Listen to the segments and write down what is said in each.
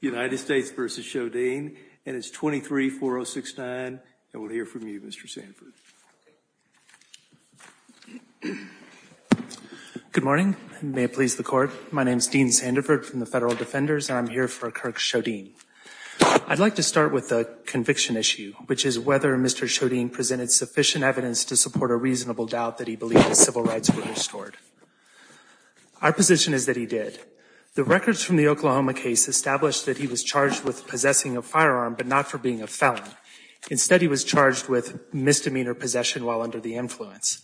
United States v. Sjodin, and it's 23-4069, and we'll hear from you, Mr. Sandford. Good morning. May it please the Court. My name is Dean Sandford from the Federal Defenders, and I'm here for Kirk Sjodin. I'd like to start with the conviction issue, which is whether Mr. Sjodin presented sufficient evidence to support a reasonable doubt that he believed the civil rights were restored. Our position is that he did. The records from the Oklahoma case established that he was charged with possessing a firearm, but not for being a felon. Instead, he was charged with misdemeanor possession while under the influence.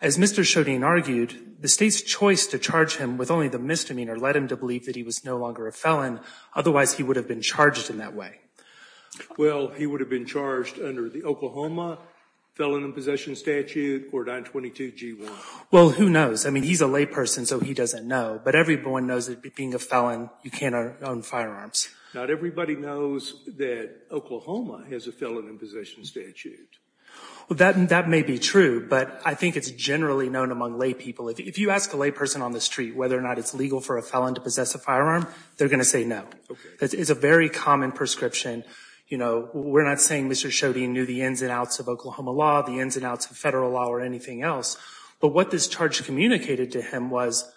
As Mr. Sjodin argued, the State's choice to charge him with only the misdemeanor led him to believe that he was no longer a felon. Otherwise, he would have been charged in that way. Well, he would have been charged under the Oklahoma Felon in Possession Statute or 922 G1. Well, who knows? I mean, he's a layperson, so he doesn't know, but everyone knows that being a felon, you can't own firearms. Not everybody knows that Oklahoma has a felon in possession statute. That may be true, but I think it's generally known among laypeople. If you ask a layperson on the street whether or not it's legal for a felon to possess a firearm, they're going to say no. Okay. It's a very common prescription. You know, we're not saying Mr. Sjodin knew the ins and outs of Oklahoma law, the ins and outs of Federal law, or anything else. But what this charge communicated to him was,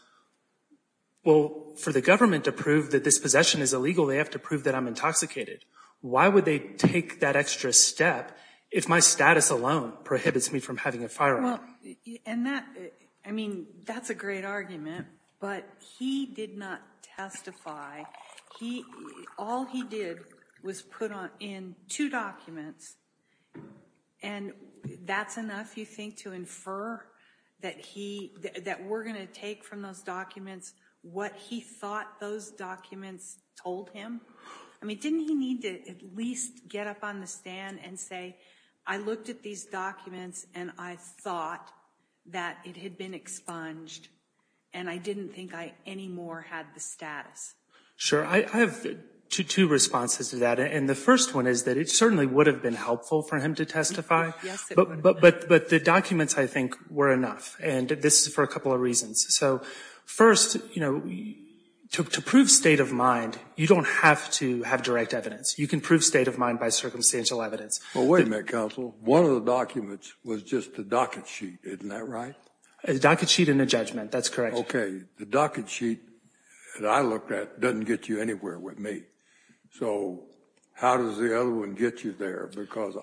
well, for the government to prove that this possession is illegal, they have to prove that I'm intoxicated. Why would they take that extra step if my status alone prohibits me from having a firearm? I mean, that's a great argument, but he did not testify. All he did was put in two documents, and that's enough, you think, to infer that we're going to take from those documents what he thought those documents told him? I mean, didn't he need to at least get up on the stand and say, I looked at these documents, and I thought that it had been expunged, and I didn't think I anymore had the status? Sure. I have two responses to that, and the first one is that it certainly would have been helpful for him to testify. Yes, it would. But the documents, I think, were enough, and this is for a couple of reasons. So first, to prove state of mind, you don't have to have direct evidence. You can prove state of mind by circumstantial evidence. Well, wait a minute, counsel. One of the documents was just the docket sheet. Isn't that right? A docket sheet and a judgment. That's correct. OK. The docket sheet that I looked at doesn't get you anywhere with me. So how does the other one get you there? Because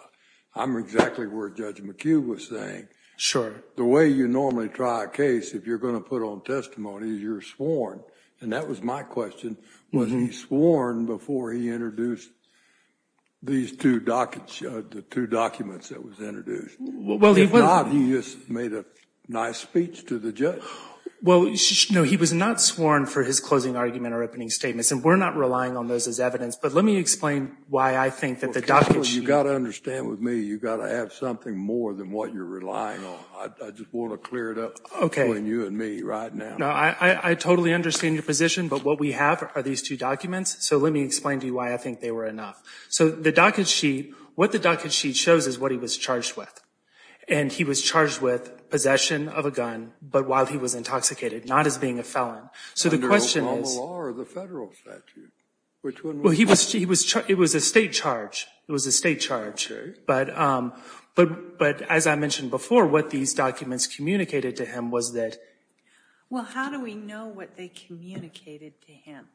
I'm exactly where Judge McHugh was saying. Sure. The way you normally try a case, if you're going to put on testimony, is you're sworn. And that was my question. Was he sworn before he introduced these two dockets, the two documents that was introduced? Well, he was. If not, he just made a nice speech to the judge. Well, no, he was not sworn for his closing argument or opening statements, and we're not relying on those as evidence. But let me explain why I think that the docket sheet. Counsel, you've got to understand with me, you've got to have something more than what you're relying on. I just want to clear it up between you and me right now. No, I totally understand your position. But what we have are these two documents. So let me explain to you why I think they were enough. So the docket sheet, what the docket sheet shows is what he was charged with. And he was charged with possession of a gun, but while he was intoxicated, not as being a felon. So the question is. Under Obama law or the Federal statute? Which one was it? Well, it was a State charge. It was a State charge. OK. But as I mentioned before, what these documents communicated to him was that. Well, how do we know what they communicated to him?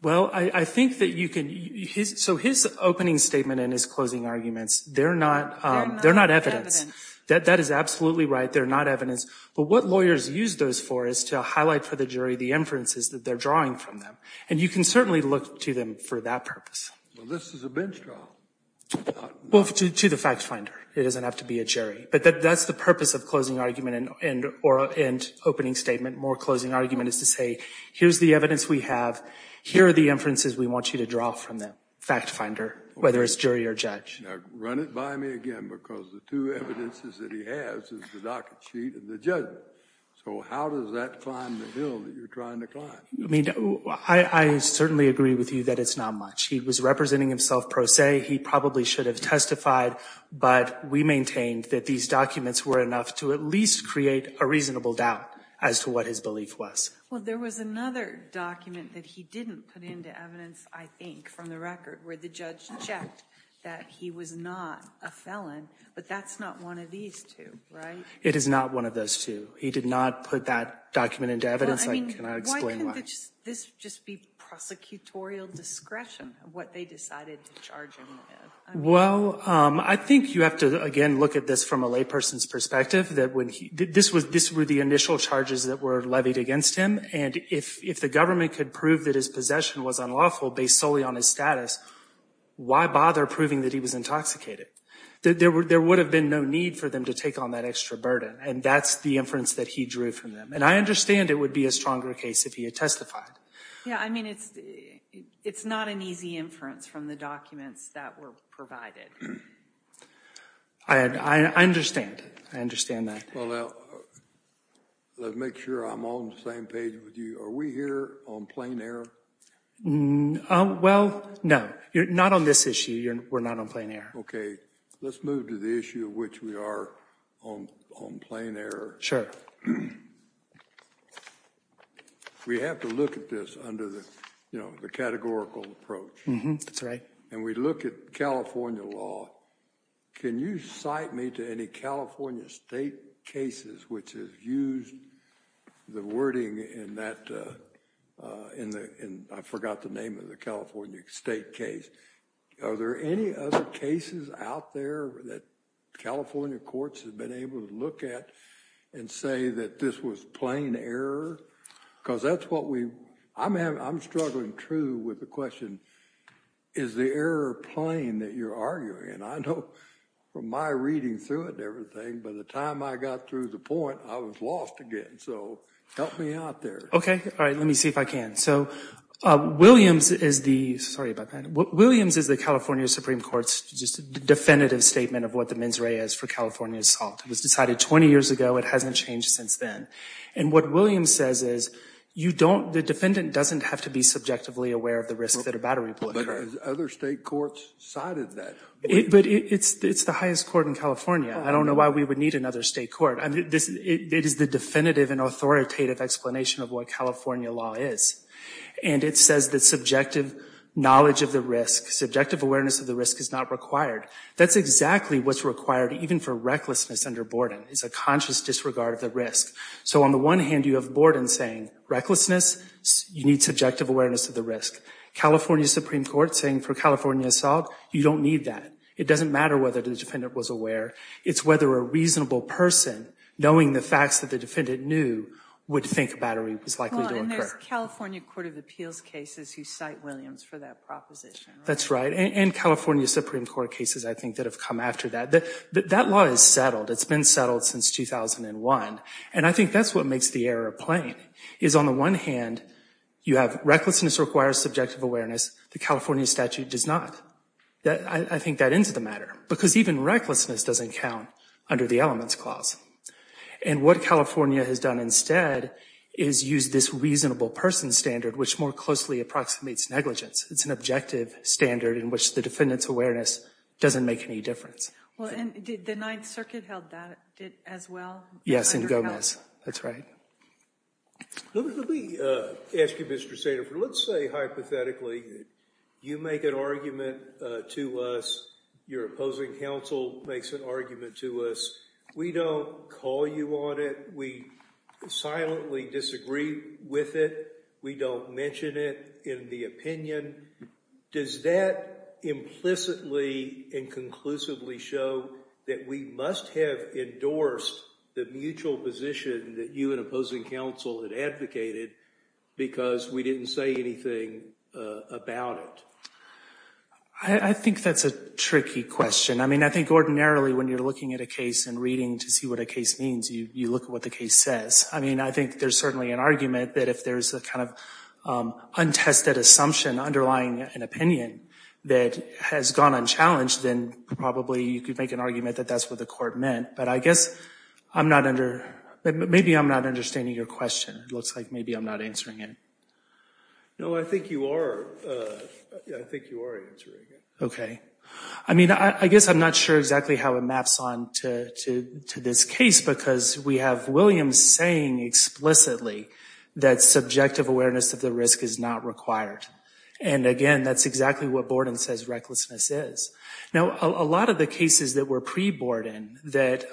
Well, I think that you can. So his opening statement and his closing arguments, they're not evidence. That is absolutely right. They're not evidence. But what lawyers use those for is to highlight for the jury the inferences that they're drawing from them. And you can certainly look to them for that purpose. Well, this is a bench draw. Well, to the fact finder. It doesn't have to be a jury. But that's the purpose of closing argument and opening statement. More closing argument is to say, here's the evidence we have. Here are the inferences we want you to draw from them, fact finder, whether it's jury or judge. Now, run it by me again, because the two evidences that he has is the docket sheet and the judgment. So how does that climb the hill that you're trying to climb? I mean, I certainly agree with you that it's not much. He was representing himself pro se. He probably should have testified. But we maintained that these documents were enough to at least create a reasonable doubt as to what his belief was. Well, there was another document that he didn't put into evidence, I think, from the record, where the judge checked that he was not a felon. But that's not one of these two, right? It is not one of those two. He did not put that document into evidence. I cannot explain why. Could this just be prosecutorial discretion of what they decided to charge him with? Well, I think you have to, again, look at this from a layperson's perspective. This were the initial charges that were levied against him. And if the government could prove that his possession was unlawful based solely on his status, why bother proving that he was intoxicated? There would have been no need for them to take on that extra burden. And that's the inference that he drew from them. And I understand it would be a stronger case if he had testified. Yeah, I mean, it's not an easy inference from the documents that were provided. I understand. I understand that. Well, now, let's make sure I'm on the same page with you. Are we here on plain error? Well, no. You're not on this issue. We're not on plain error. OK. Let's move to the issue of which we are on plain error. Sure. We have to look at this under the categorical approach. That's right. And we look at California law. Can you cite me to any California state cases which has used the wording in that, I forgot the name of the California state case. Are there any other cases out there that California courts have been able to look at and say that this was plain error? Because that's what we, I'm struggling true with the question, is the error plain that you're arguing? And I know from my reading through it and everything, by the time I got through the point, I was lost again. So help me out there. OK. All right, let me see if I can. So Williams is the California Supreme Court's definitive statement of what the mens rea is for California assault. It was decided 20 years ago. It hasn't changed since then. And what Williams says is, the defendant doesn't have to be subjectively aware of the risk that a battery put her. But other state courts cited that. But it's the highest court in California. I don't know why we would need another state court. It is the definitive and authoritative explanation of what California law is. And it says that subjective knowledge of the risk, subjective awareness of the risk is not required. That's exactly what's required even for recklessness under Borden, is a conscious disregard of the risk. So on the one hand, you have Borden saying, recklessness, you need subjective awareness of the risk. California Supreme Court saying for California assault, you don't need that. It doesn't matter whether the defendant was aware. It's whether a reasonable person, knowing the facts that the defendant knew, would think a battery was likely to occur. Well, and there's California Court of Appeals cases who cite Williams for that proposition. That's right. And California Supreme Court cases, I think, that have come after that. That law is settled. It's been settled since 2001. And I think that's what makes the error plain, is on the one hand, you have recklessness requires subjective awareness. The California statute does not. I think that ends the matter. Because even recklessness doesn't count under the elements clause. And what California has done instead is use this reasonable person standard, which more closely approximates negligence. It's an objective standard in which the defendant's awareness doesn't make any difference. Well, and did the Ninth Circuit held that as well? Yes, in Gomez. That's right. Let me ask you, Mr. Sandefur, let's say, hypothetically, you make an argument to us, your opposing counsel makes an argument to us. We don't call you on it. We silently disagree with it. We don't mention it in the opinion. Does that implicitly and conclusively show that we must have endorsed the mutual position that you and opposing counsel had advocated because we didn't say anything about it? I think that's a tricky question. I mean, I think ordinarily, when you're looking at a case and reading to see what a case means, you look at what the case says. I mean, I think there's certainly an argument that if there's a kind of untested assumption underlying an opinion that has gone unchallenged, then probably you could make an argument that that's what the court meant. But I guess I'm not under, maybe I'm not understanding your question. It looks like maybe I'm not answering it. No, I think you are. I think you are answering it. Okay. I mean, I guess I'm not sure exactly how it maps on to this case because we have Williams saying explicitly that subjective awareness of the risk is not required. And again, that's exactly what Borden says recklessness is. Now, a lot of the cases that were pre-Borden that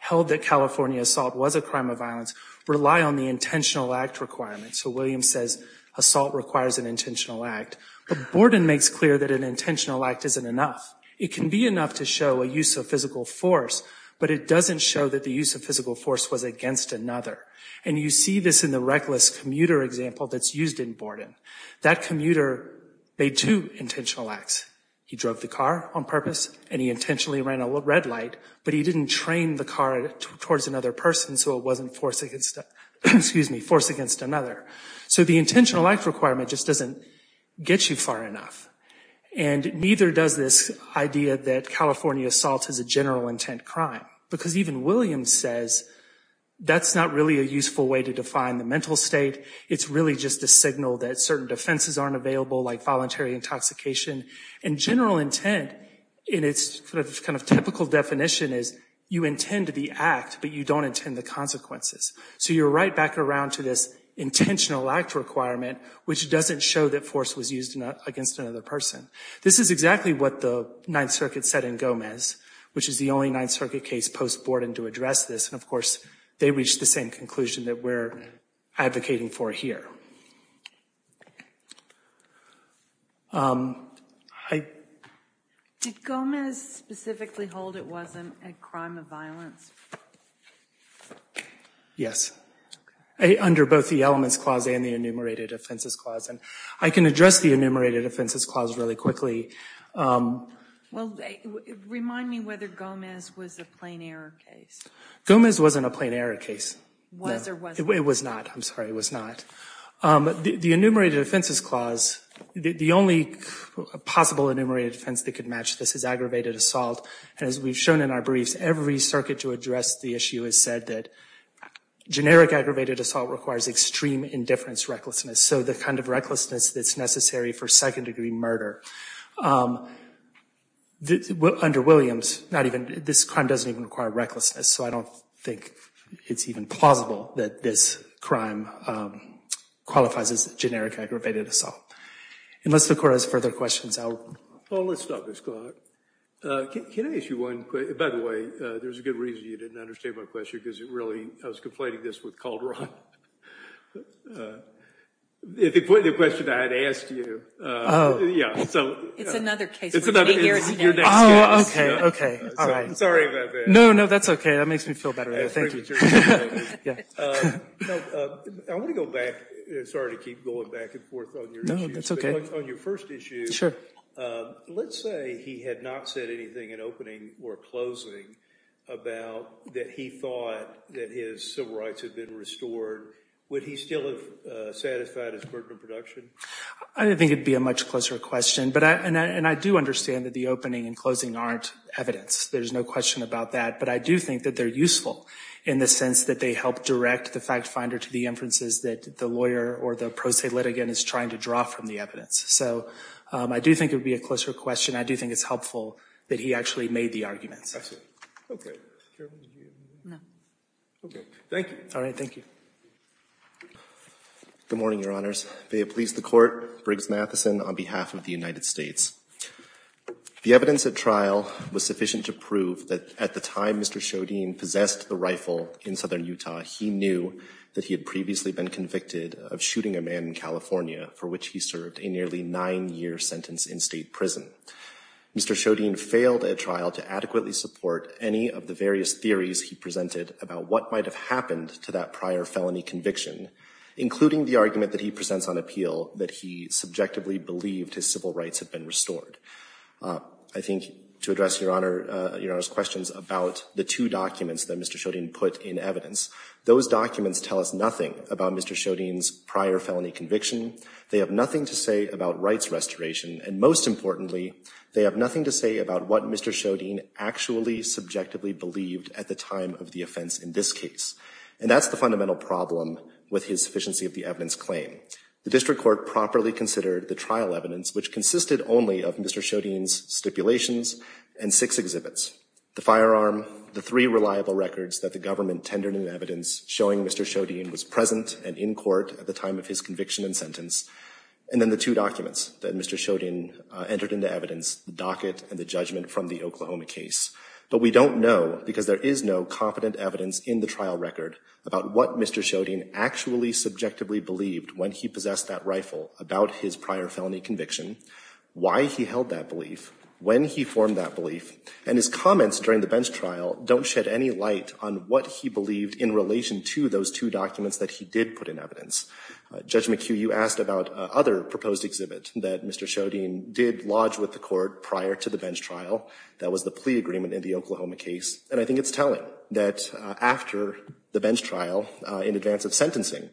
held that California assault was a crime of violence rely on the intentional act requirement. So Williams says assault requires an intentional act. But Borden makes clear that an intentional act isn't enough. It can be enough to show a use of physical force, but it doesn't show that the use of physical force was against another. And you see this in the reckless commuter example that's used in Borden. That commuter made two intentional acts. He drove the car on purpose and he intentionally ran a red light, but he didn't train the car towards another person so it wasn't force against another. So the intentional act requirement just doesn't get you far enough. And neither does this idea that California assault is a general intent crime. Because even Williams says that's not really a useful way to define the mental state. It's really just a signal that certain defenses aren't available like voluntary intoxication. And general intent in its kind of typical definition is you intend to be act, but you don't intend the consequences. So you're right back around to this intentional act requirement which doesn't show that force was used against another person. This is exactly what the Ninth Circuit said in Gomez, which is the only Ninth Circuit case post-Borden to address this. And, of course, they reached the same conclusion that we're advocating for here. Did Gomez specifically hold it wasn't a crime of violence? Yes. Under both the Elements Clause and the Enumerated Offenses Clause. And I can address the Enumerated Offenses Clause really quickly. Remind me whether Gomez was a plain error case. Gomez wasn't a plain error case. Was or wasn't? It was not. I'm sorry, it was not. The Enumerated Offenses Clause, the only possible enumerated offense that could match this is aggravated assault. And as we've shown in our briefs, every circuit to address the issue has said that generic aggravated assault requires extreme indifference recklessness, so the kind of recklessness that's necessary for second-degree murder. Under Williams, this crime doesn't even require recklessness, so I don't think it's even plausible that this crime qualifies as generic aggravated assault. Unless the Court has further questions, I'll— Well, let's stop this clock. Can I ask you one quick—by the way, there's a good reason you didn't understand my question, because it really—I was conflating this with Calderon. If he put in a question I had asked you— Oh. Yeah, so— It's another case. It's your next case. Oh, okay, okay, all right. Sorry about that. No, no, that's okay. That makes me feel better. Thank you. No, I want to go back. Sorry to keep going back and forth on your issues. No, that's okay. On your first issue— Let's say he had not said anything in opening or closing about that he thought that his civil rights had been restored. Would he still have satisfied his burden of production? I don't think it would be a much closer question, and I do understand that the opening and closing aren't evidence. There's no question about that, but I do think that they're useful in the sense that they help direct the fact finder to the inferences that the lawyer or the pro se litigant is trying to draw from the evidence. So I do think it would be a closer question. I do think it's helpful that he actually made the arguments. Okay. No. Okay. Thank you. All right. Thank you. Good morning, Your Honors. May it please the Court, Briggs Matheson on behalf of the United States. The evidence at trial was sufficient to prove that at the time Mr. Shodine possessed the rifle in southern Utah, he knew that he had previously been convicted of shooting a man in California for which he served a nearly nine-year sentence in state prison. Mr. Shodine failed at trial to adequately support any of the various theories he presented about what might have happened to that prior felony conviction, including the argument that he presents on appeal that he subjectively believed his civil rights had been restored. I think to address Your Honor's questions about the two documents that Mr. Shodine put in evidence, those documents tell us nothing about Mr. Shodine's prior felony conviction. They have nothing to say about rights restoration. And most importantly, they have nothing to say about what Mr. Shodine actually subjectively believed at the time of the offense in this case. And that's the fundamental problem with his sufficiency of the evidence claim. The district court properly considered the trial evidence, which consisted only of Mr. Shodine's stipulations and six exhibits. The firearm, the three reliable records that the government tendered in evidence showing Mr. Shodine was present and in court at the time of his conviction and sentence, and then the two documents that Mr. Shodine entered into evidence, the docket and the judgment from the Oklahoma case. But we don't know, because there is no confident evidence in the trial record about what Mr. Shodine actually subjectively believed when he possessed that rifle about his prior felony conviction, why he held that belief, when he formed that belief. And his comments during the bench trial don't shed any light on what he believed in relation to those two documents that he did put in evidence. Judge McHugh, you asked about other proposed exhibits that Mr. Shodine did lodge with the court prior to the bench trial. That was the plea agreement in the Oklahoma case. And I think it's telling that after the bench trial, in advance of sentencing,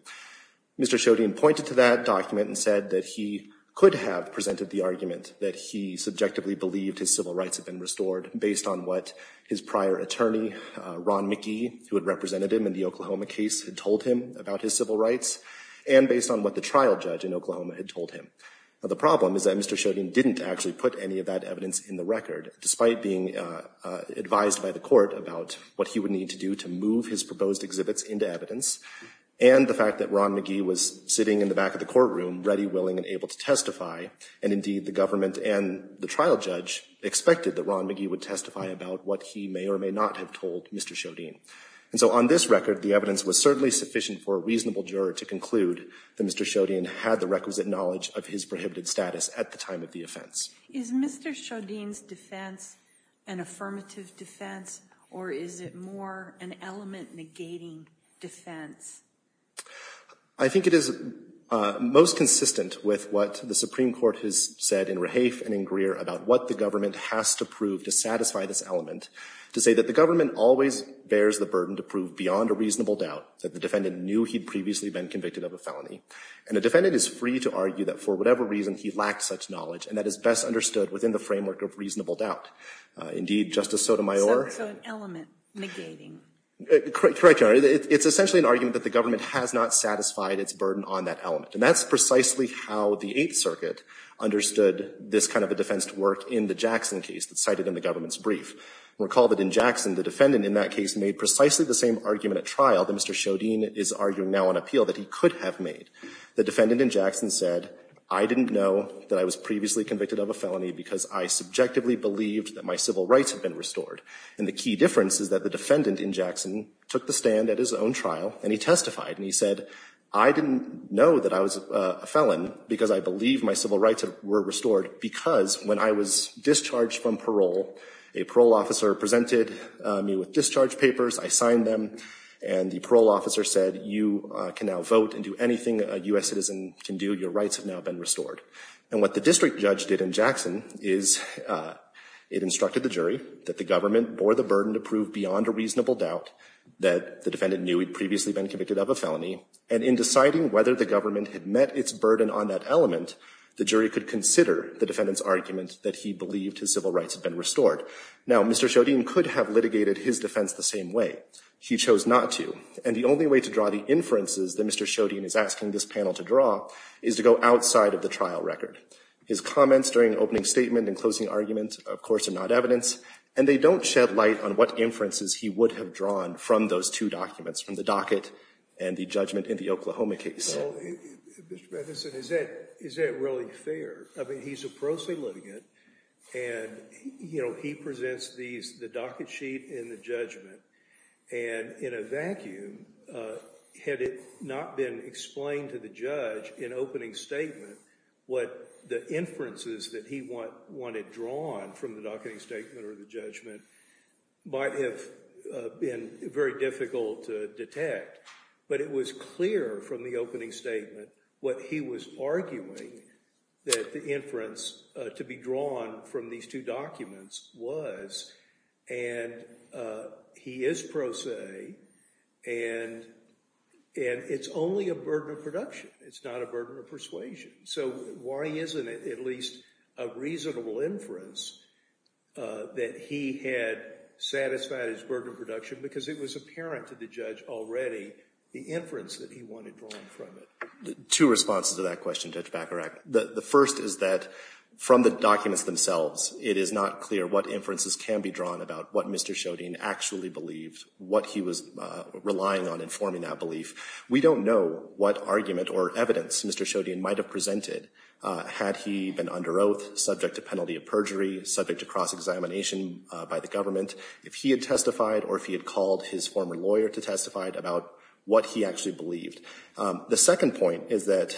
Mr. Shodine pointed to that document and said that he could have presented the argument that he subjectively believed his civil rights had been restored based on what his prior attorney, Ron Mickey, who had represented him in the Oklahoma case, had told him about his civil rights and based on what the trial judge in Oklahoma had told him. The problem is that Mr. Shodine didn't actually put any of that evidence in the record, despite being advised by the court about what he would need to do to move his proposed exhibits into evidence, and the fact that Ron McGee was sitting in the back of the courtroom, ready, willing, and able to testify. And indeed, the government and the trial judge expected that Ron McGee would testify about what he may or may not have told Mr. Shodine. And so on this record, the evidence was certainly sufficient for a reasonable juror to conclude that Mr. Shodine had the requisite knowledge of his prohibited status at the time of the offense. Is Mr. Shodine's defense an affirmative defense, or is it more an element-negating defense? I think it is most consistent with what the Supreme Court has said in Rahafe and in Greer about what the government has to prove to satisfy this element, to say that the government always bears the burden to prove beyond a reasonable doubt that the defendant knew he'd previously been convicted of a felony. And a defendant is free to argue that for whatever reason he lacked such knowledge. And that is best understood within the framework of reasonable doubt. Indeed, Justice Sotomayor. So it's an element-negating. Correct, Your Honor. It's essentially an argument that the government has not satisfied its burden on that element. And that's precisely how the Eighth Circuit understood this kind of a defense to work in the Jackson case that's cited in the government's brief. Recall that in Jackson, the defendant in that case made precisely the same argument at trial that Mr. Shodine is arguing now on appeal that he could have made. The defendant in Jackson said, I didn't know that I was previously convicted of a felony because I subjectively believed that my civil rights had been restored. And the key difference is that the defendant in Jackson took the stand at his own trial. And he testified. And he said, I didn't know that I was a felon because I believe my civil rights were restored because when I was discharged from parole, a parole officer presented me with discharge papers. I signed them. And the parole officer said, you can now vote and do anything a US citizen can do. Your rights have now been restored. And what the district judge did in Jackson is it instructed the jury that the government bore the burden to prove beyond a reasonable doubt that the defendant knew he'd previously been convicted of a felony. And in deciding whether the government had met its burden on that element, the jury could consider the defendant's argument that he believed his civil rights had been restored. Now, Mr. Shodine could have litigated his defense the same way. He chose not to. And the only way to draw the inferences that Mr. Shodine is asking this panel to draw is to go outside of the trial record. His comments during the opening statement and closing argument, of course, are not evidence. And they don't shed light on what inferences he would have drawn from those two documents, from the docket and the judgment in the Oklahoma case. Well, Mr. Matheson, is that really fair? I mean, he's a pro se litigant. And he presents the docket sheet and the judgment. And in a vacuum, had it not been explained to the judge in opening statement, what the inferences that he wanted drawn from the docketing statement or the judgment might have been very difficult to detect. But it was clear from the opening statement what he was arguing that the inference to be drawn from these two documents was. And he is pro se. And it's only a burden of production. It's not a burden of persuasion. So why isn't it at least a reasonable inference that he had satisfied his burden of production? Because it was apparent to the judge already the inference that he wanted drawn from it. Two responses to that question, Judge Bacharach. The first is that from the documents themselves, it is not clear what inferences can be drawn about what Mr. Shodian actually believed, what he was relying on informing that belief. We don't know what argument or evidence Mr. Shodian might have presented had he been under oath, subject to penalty of perjury, subject to cross-examination by the government, if he had testified or if he had called his former lawyer to testify about what he actually believed. The second point is that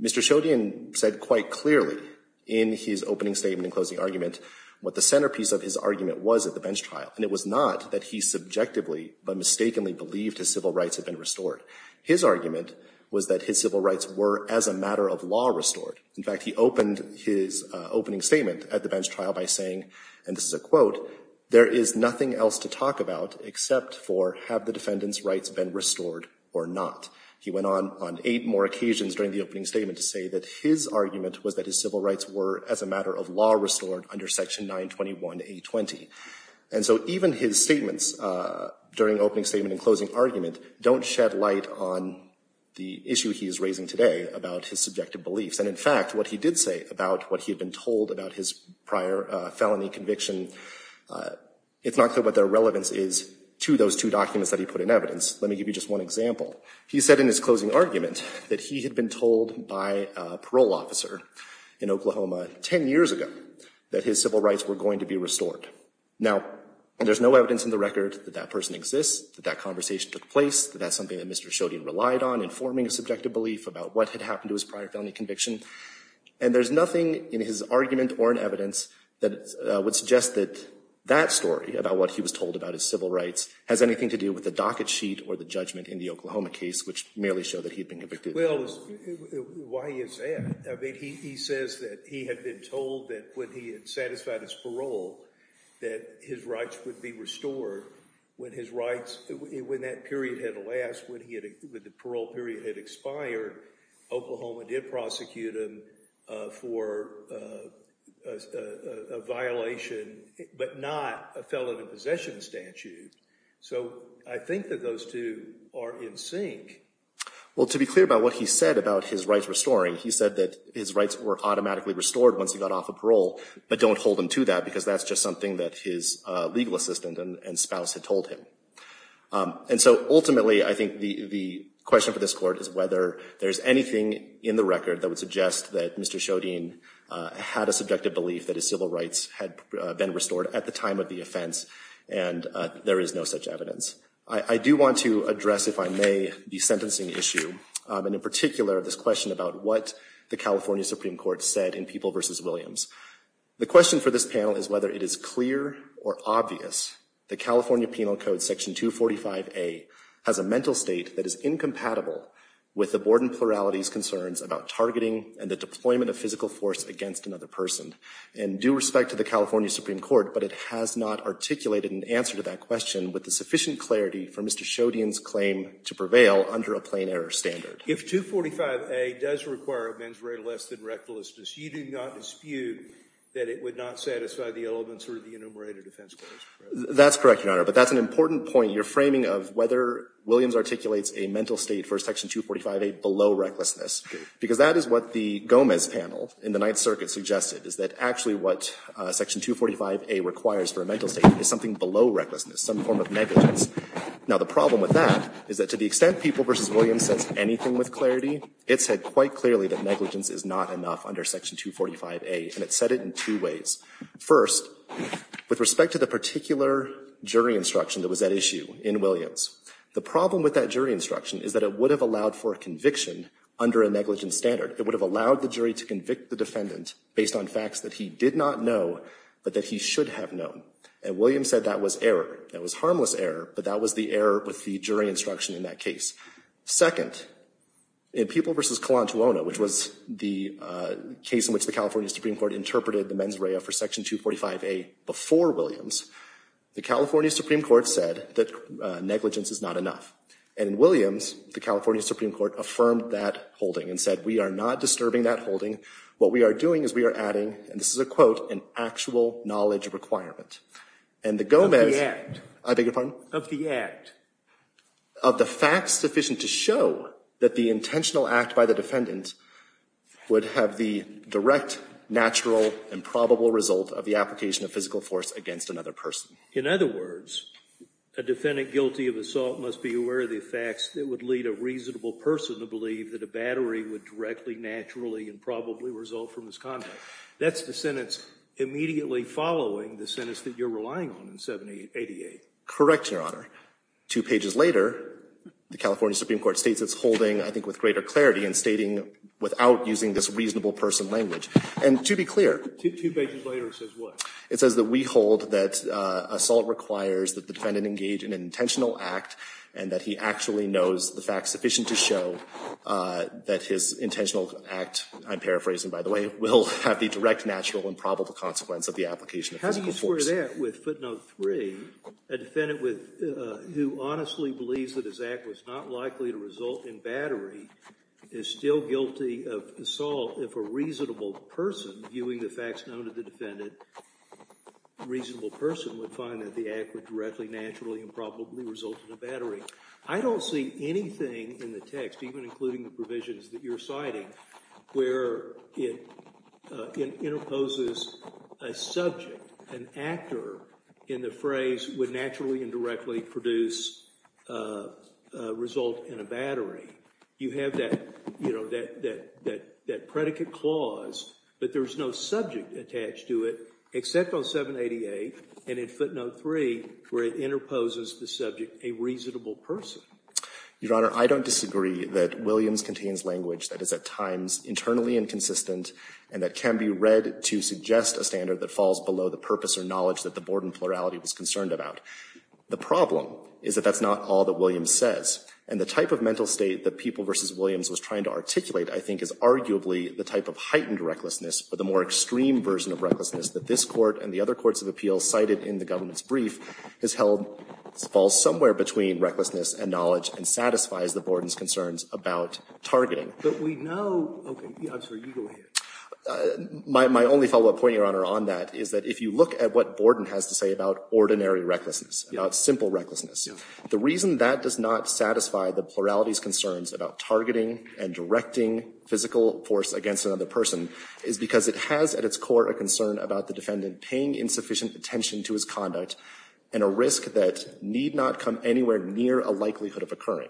Mr. Shodian said quite clearly in his opening statement and closing argument what the centerpiece of his argument was at the bench trial. And it was not that he subjectively but mistakenly believed his civil rights had been restored. His argument was that his civil rights were as a matter of law restored. In fact, he opened his opening statement at the bench trial by saying, and this is a quote, there is nothing else to talk about except for have the defendant's rights been restored or not. He went on on eight more occasions during the opening statement to say that his argument was that his civil rights were as a matter of law restored under section 921A20. And so even his statements during opening statement and closing argument don't shed light on the issue he is raising today about his subjective beliefs. And in fact, what he did say about what he had been told about his prior felony conviction, it's not clear what their relevance is to those two documents that he put in evidence. Let me give you just one example. He said in his closing argument that he in Oklahoma 10 years ago that his civil rights were going to be restored. Now, there's no evidence in the record that that person exists, that that conversation took place, that that's something that Mr. Shodian relied on in forming a subjective belief about what had happened to his prior felony conviction. And there's nothing in his argument or in evidence that would suggest that that story about what he was told about his civil rights has anything to do with the docket sheet or the judgment in the Oklahoma case, which merely showed that he'd been convicted. Well, why is that? I mean, he says that he had been told that when he had satisfied his parole that his rights would be restored. When his rights, when that period had elapsed, when the parole period had expired, Oklahoma did prosecute him for a violation, but not a felony possession statute. So I think that those two are in sync. Well, to be clear about what he said about his rights restoring, he said that his rights were automatically restored once he got off of parole, but don't hold him to that, because that's just something that his legal assistant and spouse had told him. And so ultimately, I think the question for this court is whether there's anything in the record that would suggest that Mr. Shodian had a subjective belief that his civil rights had been restored at the time of the offense. And there is no such evidence. I do want to address, if I may, the sentencing issue, and in particular, this question about what the California Supreme Court said in People v. Williams. The question for this panel is whether it is clear or obvious that California Penal Code Section 245A has a mental state that is incompatible with the Borden plurality's concerns about targeting and the deployment of physical force against another person. And due respect to the California Supreme Court, but it has not articulated an answer to that question with the sufficient clarity for Mr. Shodian's claim to prevail under a plain error standard. If 245A does require a mens rea less than recklessness, you do not dispute that it would not satisfy the elements or the enumerated offense claims? That's correct, Your Honor. But that's an important point, your framing of whether Williams articulates a mental state for Section 245A below recklessness, because that is what the Gomez panel in the Ninth Circuit suggested, is that actually what Section 245A requires for a mental state is something below recklessness, some form of negligence. Now, the problem with that is that to the extent People v. Williams says anything with clarity, it said quite clearly that negligence is not enough under Section 245A. And it said it in two ways. First, with respect to the particular jury instruction that was at issue in Williams, the problem with that jury instruction is that it would have allowed for a conviction under a negligence standard. It would have allowed the jury to convict the defendant based on facts that he did not know, but that he should have known. And Williams said that was error. That was harmless error. But that was the error with the jury instruction in that case. Second, in People v. Kalantulona, which was the case in which the California Supreme Court interpreted the mens rea for Section 245A before Williams, the California Supreme Court said that negligence is not enough. And in Williams, the California Supreme Court affirmed that holding and said, we are not disturbing that holding. What we are doing is we are adding, and this is a quote, an actual knowledge requirement. And the Gomez. I beg your pardon? Of the act. Of the facts sufficient to show that the intentional act by the defendant would have the direct, natural, and probable result of the application of physical force against another person. In other words, a defendant guilty of assault must be aware of the facts that would lead a reasonable person to believe that a battery would directly, naturally, and probably result from this conduct. That's the sentence immediately following the sentence that you're relying on in 788. Correct, Your Honor. Two pages later, the California Supreme Court states it's holding, I think, with greater clarity and stating without using this reasonable person language. And to be clear. Two pages later, it says what? It says that we hold that assault requires that the defendant engage in an intentional act and that he actually knows the facts sufficient to show that his intentional act, I'm paraphrasing, by the way, will have the direct, natural, and probable consequence of the application of physical force. How do you square that with footnote 3? A defendant who honestly believes that his act was not likely to result in battery is still guilty of assault if a reasonable person, viewing the facts known to the defendant, a reasonable person would find that the act would directly, naturally, and probably result in a battery. I don't see anything in the text, even including the provisions that you're citing, where it imposes a subject, an actor, in the phrase would naturally and directly produce a result in a battery. You have that predicate clause, but there's no subject attached to it except on 788. And in footnote 3, where it interposes the subject, a reasonable person. Your Honor, I don't disagree that Williams contains language that is at times internally inconsistent and that can be read to suggest a standard that falls below the purpose or knowledge that the board in plurality was concerned about. The problem is that that's not all that Williams says. And the type of mental state that People v. Williams was trying to articulate, I think, is arguably the type of heightened recklessness or the more extreme version of recklessness that this Court and the other courts of appeal cited in the government's brief has held falls somewhere between recklessness and knowledge and satisfies the Borden's concerns about targeting. But we know, OK, I'm sorry, you go ahead. My only follow-up point, Your Honor, on that is that if you look at what Borden has to say about ordinary recklessness, about simple recklessness, the reason that does not satisfy the plurality's concerns about targeting and directing physical force against another person is because it has at its core a concern about the defendant paying insufficient attention to his conduct and a risk that need not come anywhere near a likelihood of occurring.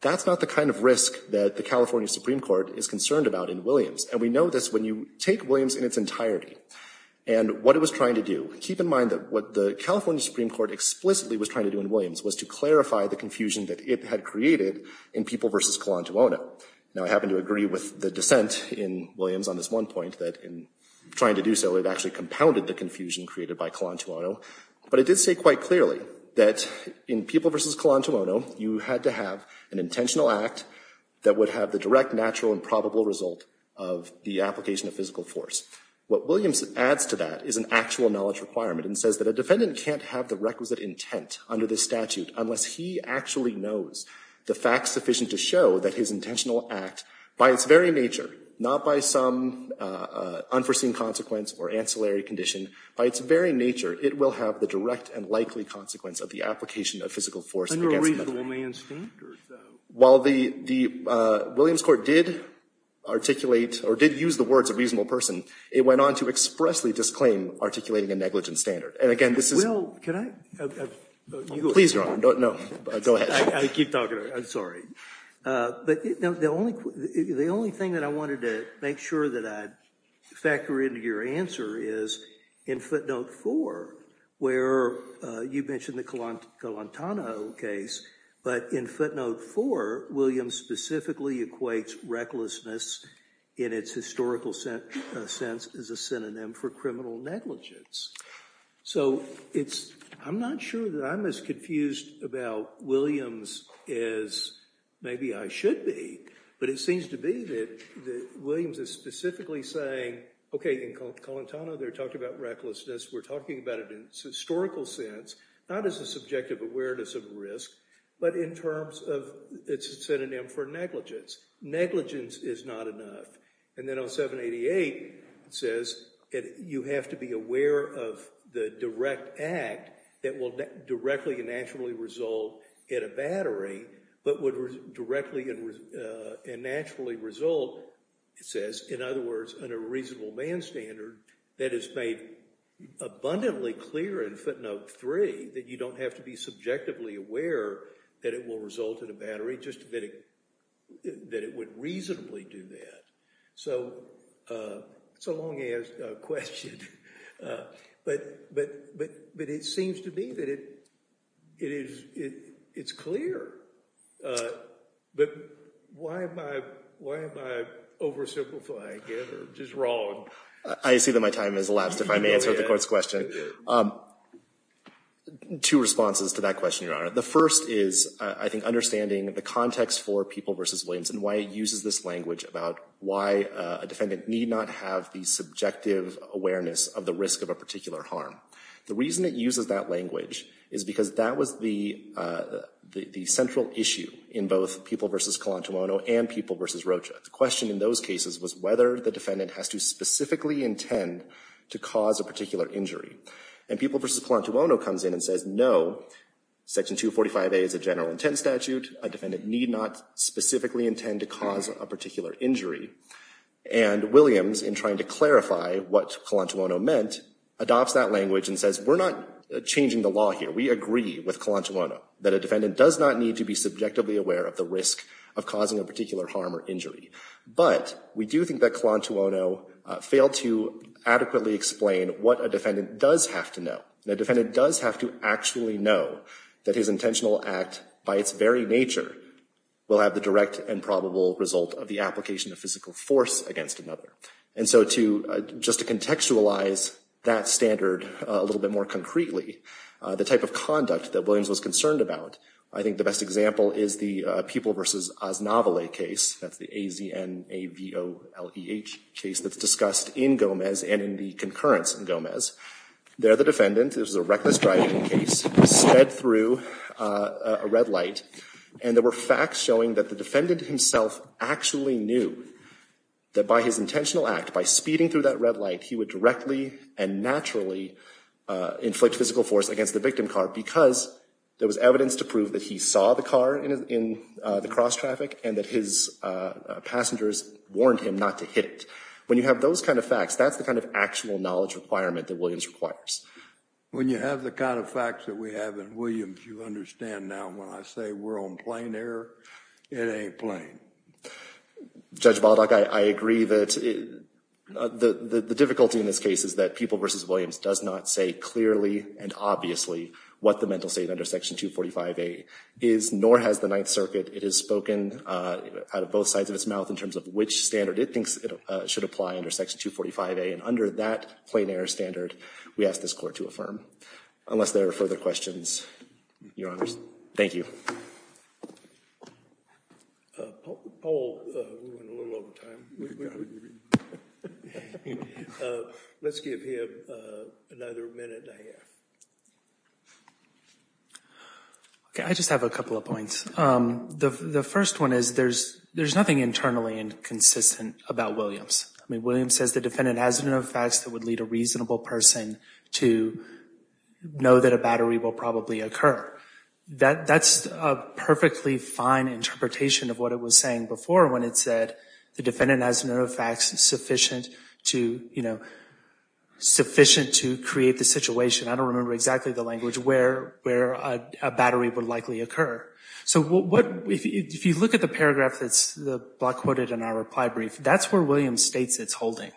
That's not the kind of risk that the California Supreme Court is concerned about in Williams. And we know this when you take Williams in its entirety and what it was trying to do. Keep in mind that what the California Supreme Court explicitly was trying to do in Williams was to clarify the confusion that it had created in People v. Kalantuona. Now, I happen to agree with the dissent in Williams on this one point, that in trying to do so, it actually compounded the confusion created by Kalantuona. But it did say quite clearly that in People v. Kalantuona, you had to have an intentional act that would have the direct, natural, and probable result of the application of physical force. What Williams adds to that is an actual knowledge requirement and says that a defendant can't have the requisite intent under the statute unless he actually knows the facts sufficient to show that his intentional act, by its very nature, not by some unforeseen consequence or ancillary condition. By its very nature, it will have the direct and likely consequence of the application of physical force against the defendant. Under a reasonable man's standard, though. While the Williams court did articulate or did use the words a reasonable person, it went on to expressly disclaim articulating a negligent standard. And again, this is. Well, can I? Please, Your Honor. No, go ahead. I keep talking. I'm sorry. But the only thing that I wanted to make sure that I'd factor into your answer is in footnote four, where you mentioned the Colantano case. But in footnote four, Williams specifically equates recklessness in its historical sense as a synonym for criminal negligence. So I'm not sure that I'm as confused about Williams as maybe I should be. But it seems to be that Williams is specifically saying, OK, in Colantano, they're talking about recklessness. We're talking about it in its historical sense, not as a subjective awareness of risk, but in terms of its synonym for negligence. Negligence is not enough. And then on 788, it says, you have to be aware of the direct act that will directly and naturally result in a battery, but would directly and naturally result, it says, in other words, on a reasonable band standard that is made abundantly clear in footnote three, that you don't have to be subjectively aware that it will result in a battery, just that it would reasonably do that. So it's a long-ass question. But it seems to me that it's clear. But why am I oversimplifying it or just wrong? I see that my time has elapsed, if I may answer the court's question. Two responses to that question, Your Honor. The first is, I think, understanding the context for People v. Williams and why it uses this language about why a defendant need not have the subjective awareness of the risk of a particular harm. The reason it uses that language is because that was the central issue in both People v. Colantumono and People v. Rocha. The question in those cases was whether the defendant has to specifically intend to cause a particular injury. And People v. Colantumono comes in and says, no. Section 245A is a general intent statute. A defendant need not specifically intend to cause a particular injury. And Williams, in trying to clarify what Colantumono meant, adopts that language and says, we're not changing the law here. We agree with Colantumono that a defendant does not need to be subjectively aware of the risk of causing a particular harm or injury. But we do think that Colantumono failed to adequately explain what a defendant does have to know. The defendant does have to actually know that his intentional act, by its very nature, will have the direct and probable result of the application of physical force against another. And so just to contextualize that standard a little bit more concretely, the type of conduct that Williams was concerned about, I think the best example is the People v. Osnovale case. That's the A-Z-N-A-V-O-L-E-H case that's discussed in Gomez and in the concurrence in Gomez. There, the defendant, this was a reckless driving case, sped through a red light. And there were facts showing that the defendant himself actually knew that by his intentional act, by speeding through that red light, he would directly and naturally inflict physical force against the victim car because there was evidence to prove that he saw the car in the cross traffic and that his passengers warned him not to hit it. When you have those kind of facts, that's the kind of actual knowledge requirement that Williams requires. When you have the kind of facts that we have in Williams, you understand now when I say we're on plain air, it ain't plain. Judge Baldock, I agree that the difficulty in this case is that People v. Williams does not say clearly and obviously what the mental state under Section 245A is, nor has the Ninth Circuit. It has spoken out of both sides of its mouth in terms of which standard it thinks should apply under Section 245A, and under that plain air standard, we ask this court to affirm. Unless there are further questions, Your Honors. Thank you. A poll, we went a little over time. We've got to do it again. Anyway, let's give him another minute and a half. Okay, I just have a couple of points. The first one is there's nothing internally and consistent about Williams. I mean, Williams says the defendant has enough facts that would lead a reasonable person to know that a battery will probably occur. That's a perfectly fine interpretation of what it was saying before, when it said the defendant has enough facts sufficient to create the situation. I don't remember exactly the language where a battery would likely occur. So if you look at the paragraph that's the block quoted in our reply brief, that's where Williams states it's holding.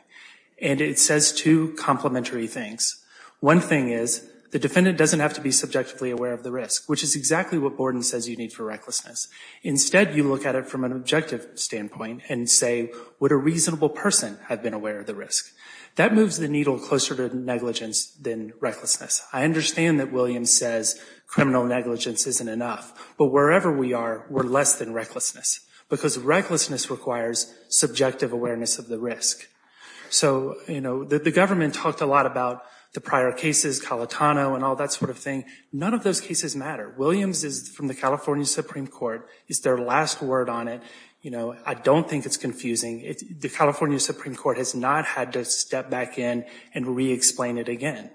And it says two complementary things. One thing is the defendant doesn't have to be subjectively aware of the risk, which is exactly what Borden says you need for recklessness. Instead, you look at it from an objective standpoint and say, would a reasonable person have been aware of the risk? That moves the needle closer to negligence than recklessness. I understand that Williams says criminal negligence isn't enough, but wherever we are, we're less than recklessness because recklessness requires subjective awareness of the risk. So the government talked a lot about the prior cases, Calitano and all that sort of thing. None of those cases matter. Williams is from the California Supreme Court. It's their last word on it. I don't think it's confusing. The California Supreme Court has not had to step back in and re-explain it again.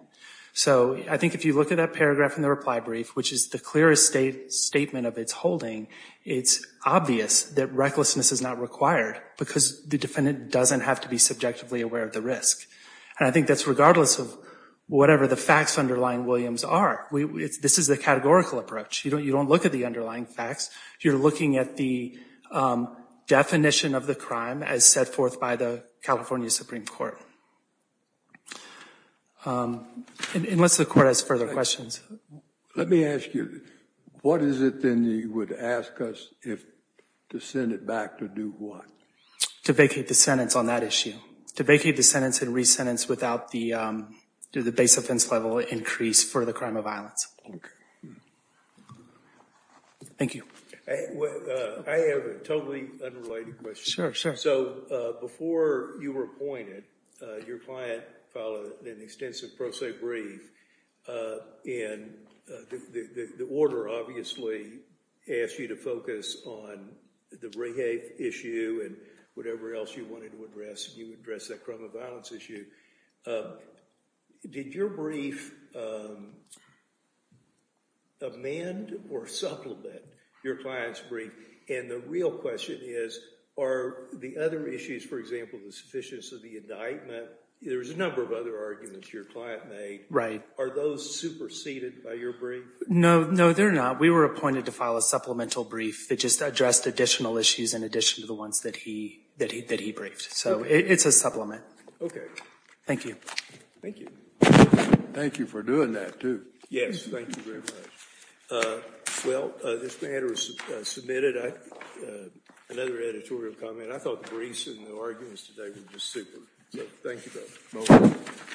So I think if you look at that paragraph in the reply brief, which is the clearest statement of its holding, it's obvious that recklessness is not required because the defendant doesn't have to be subjectively aware of the risk. And I think that's regardless of whatever the facts underlying Williams are. This is the categorical approach. You don't look at the underlying facts. You're looking at the definition of the crime as set forth by the California Supreme Court. Unless the court has further questions. Let me ask you, what is it then you would ask us to send it back to do what? To vacate the sentence on that issue. To vacate the sentence and re-sentence without the base offense level increase for the crime of violence. Thank you. I have a totally unrelated question. Sure, sure. So before you were appointed, your client filed an extensive pro se brief. And the order obviously asked you to focus on the rehab issue and whatever else you wanted to address. And you addressed that crime of violence issue. Did your brief amend or supplement your client's brief? And the real question is, are the other issues, for example, the sufficiency of the indictment, there was a number of other arguments your client made. Are those superseded by your brief? No, no, they're not. We were appointed to file a supplemental brief that just addressed additional issues in addition to the ones that he briefed. It's a supplement. Thank you. Thank you. Thank you for doing that too. Yes, thank you very much. Well, this matter is submitted. Another editorial comment. I thought the briefs and the arguments today were just super. Thank you both.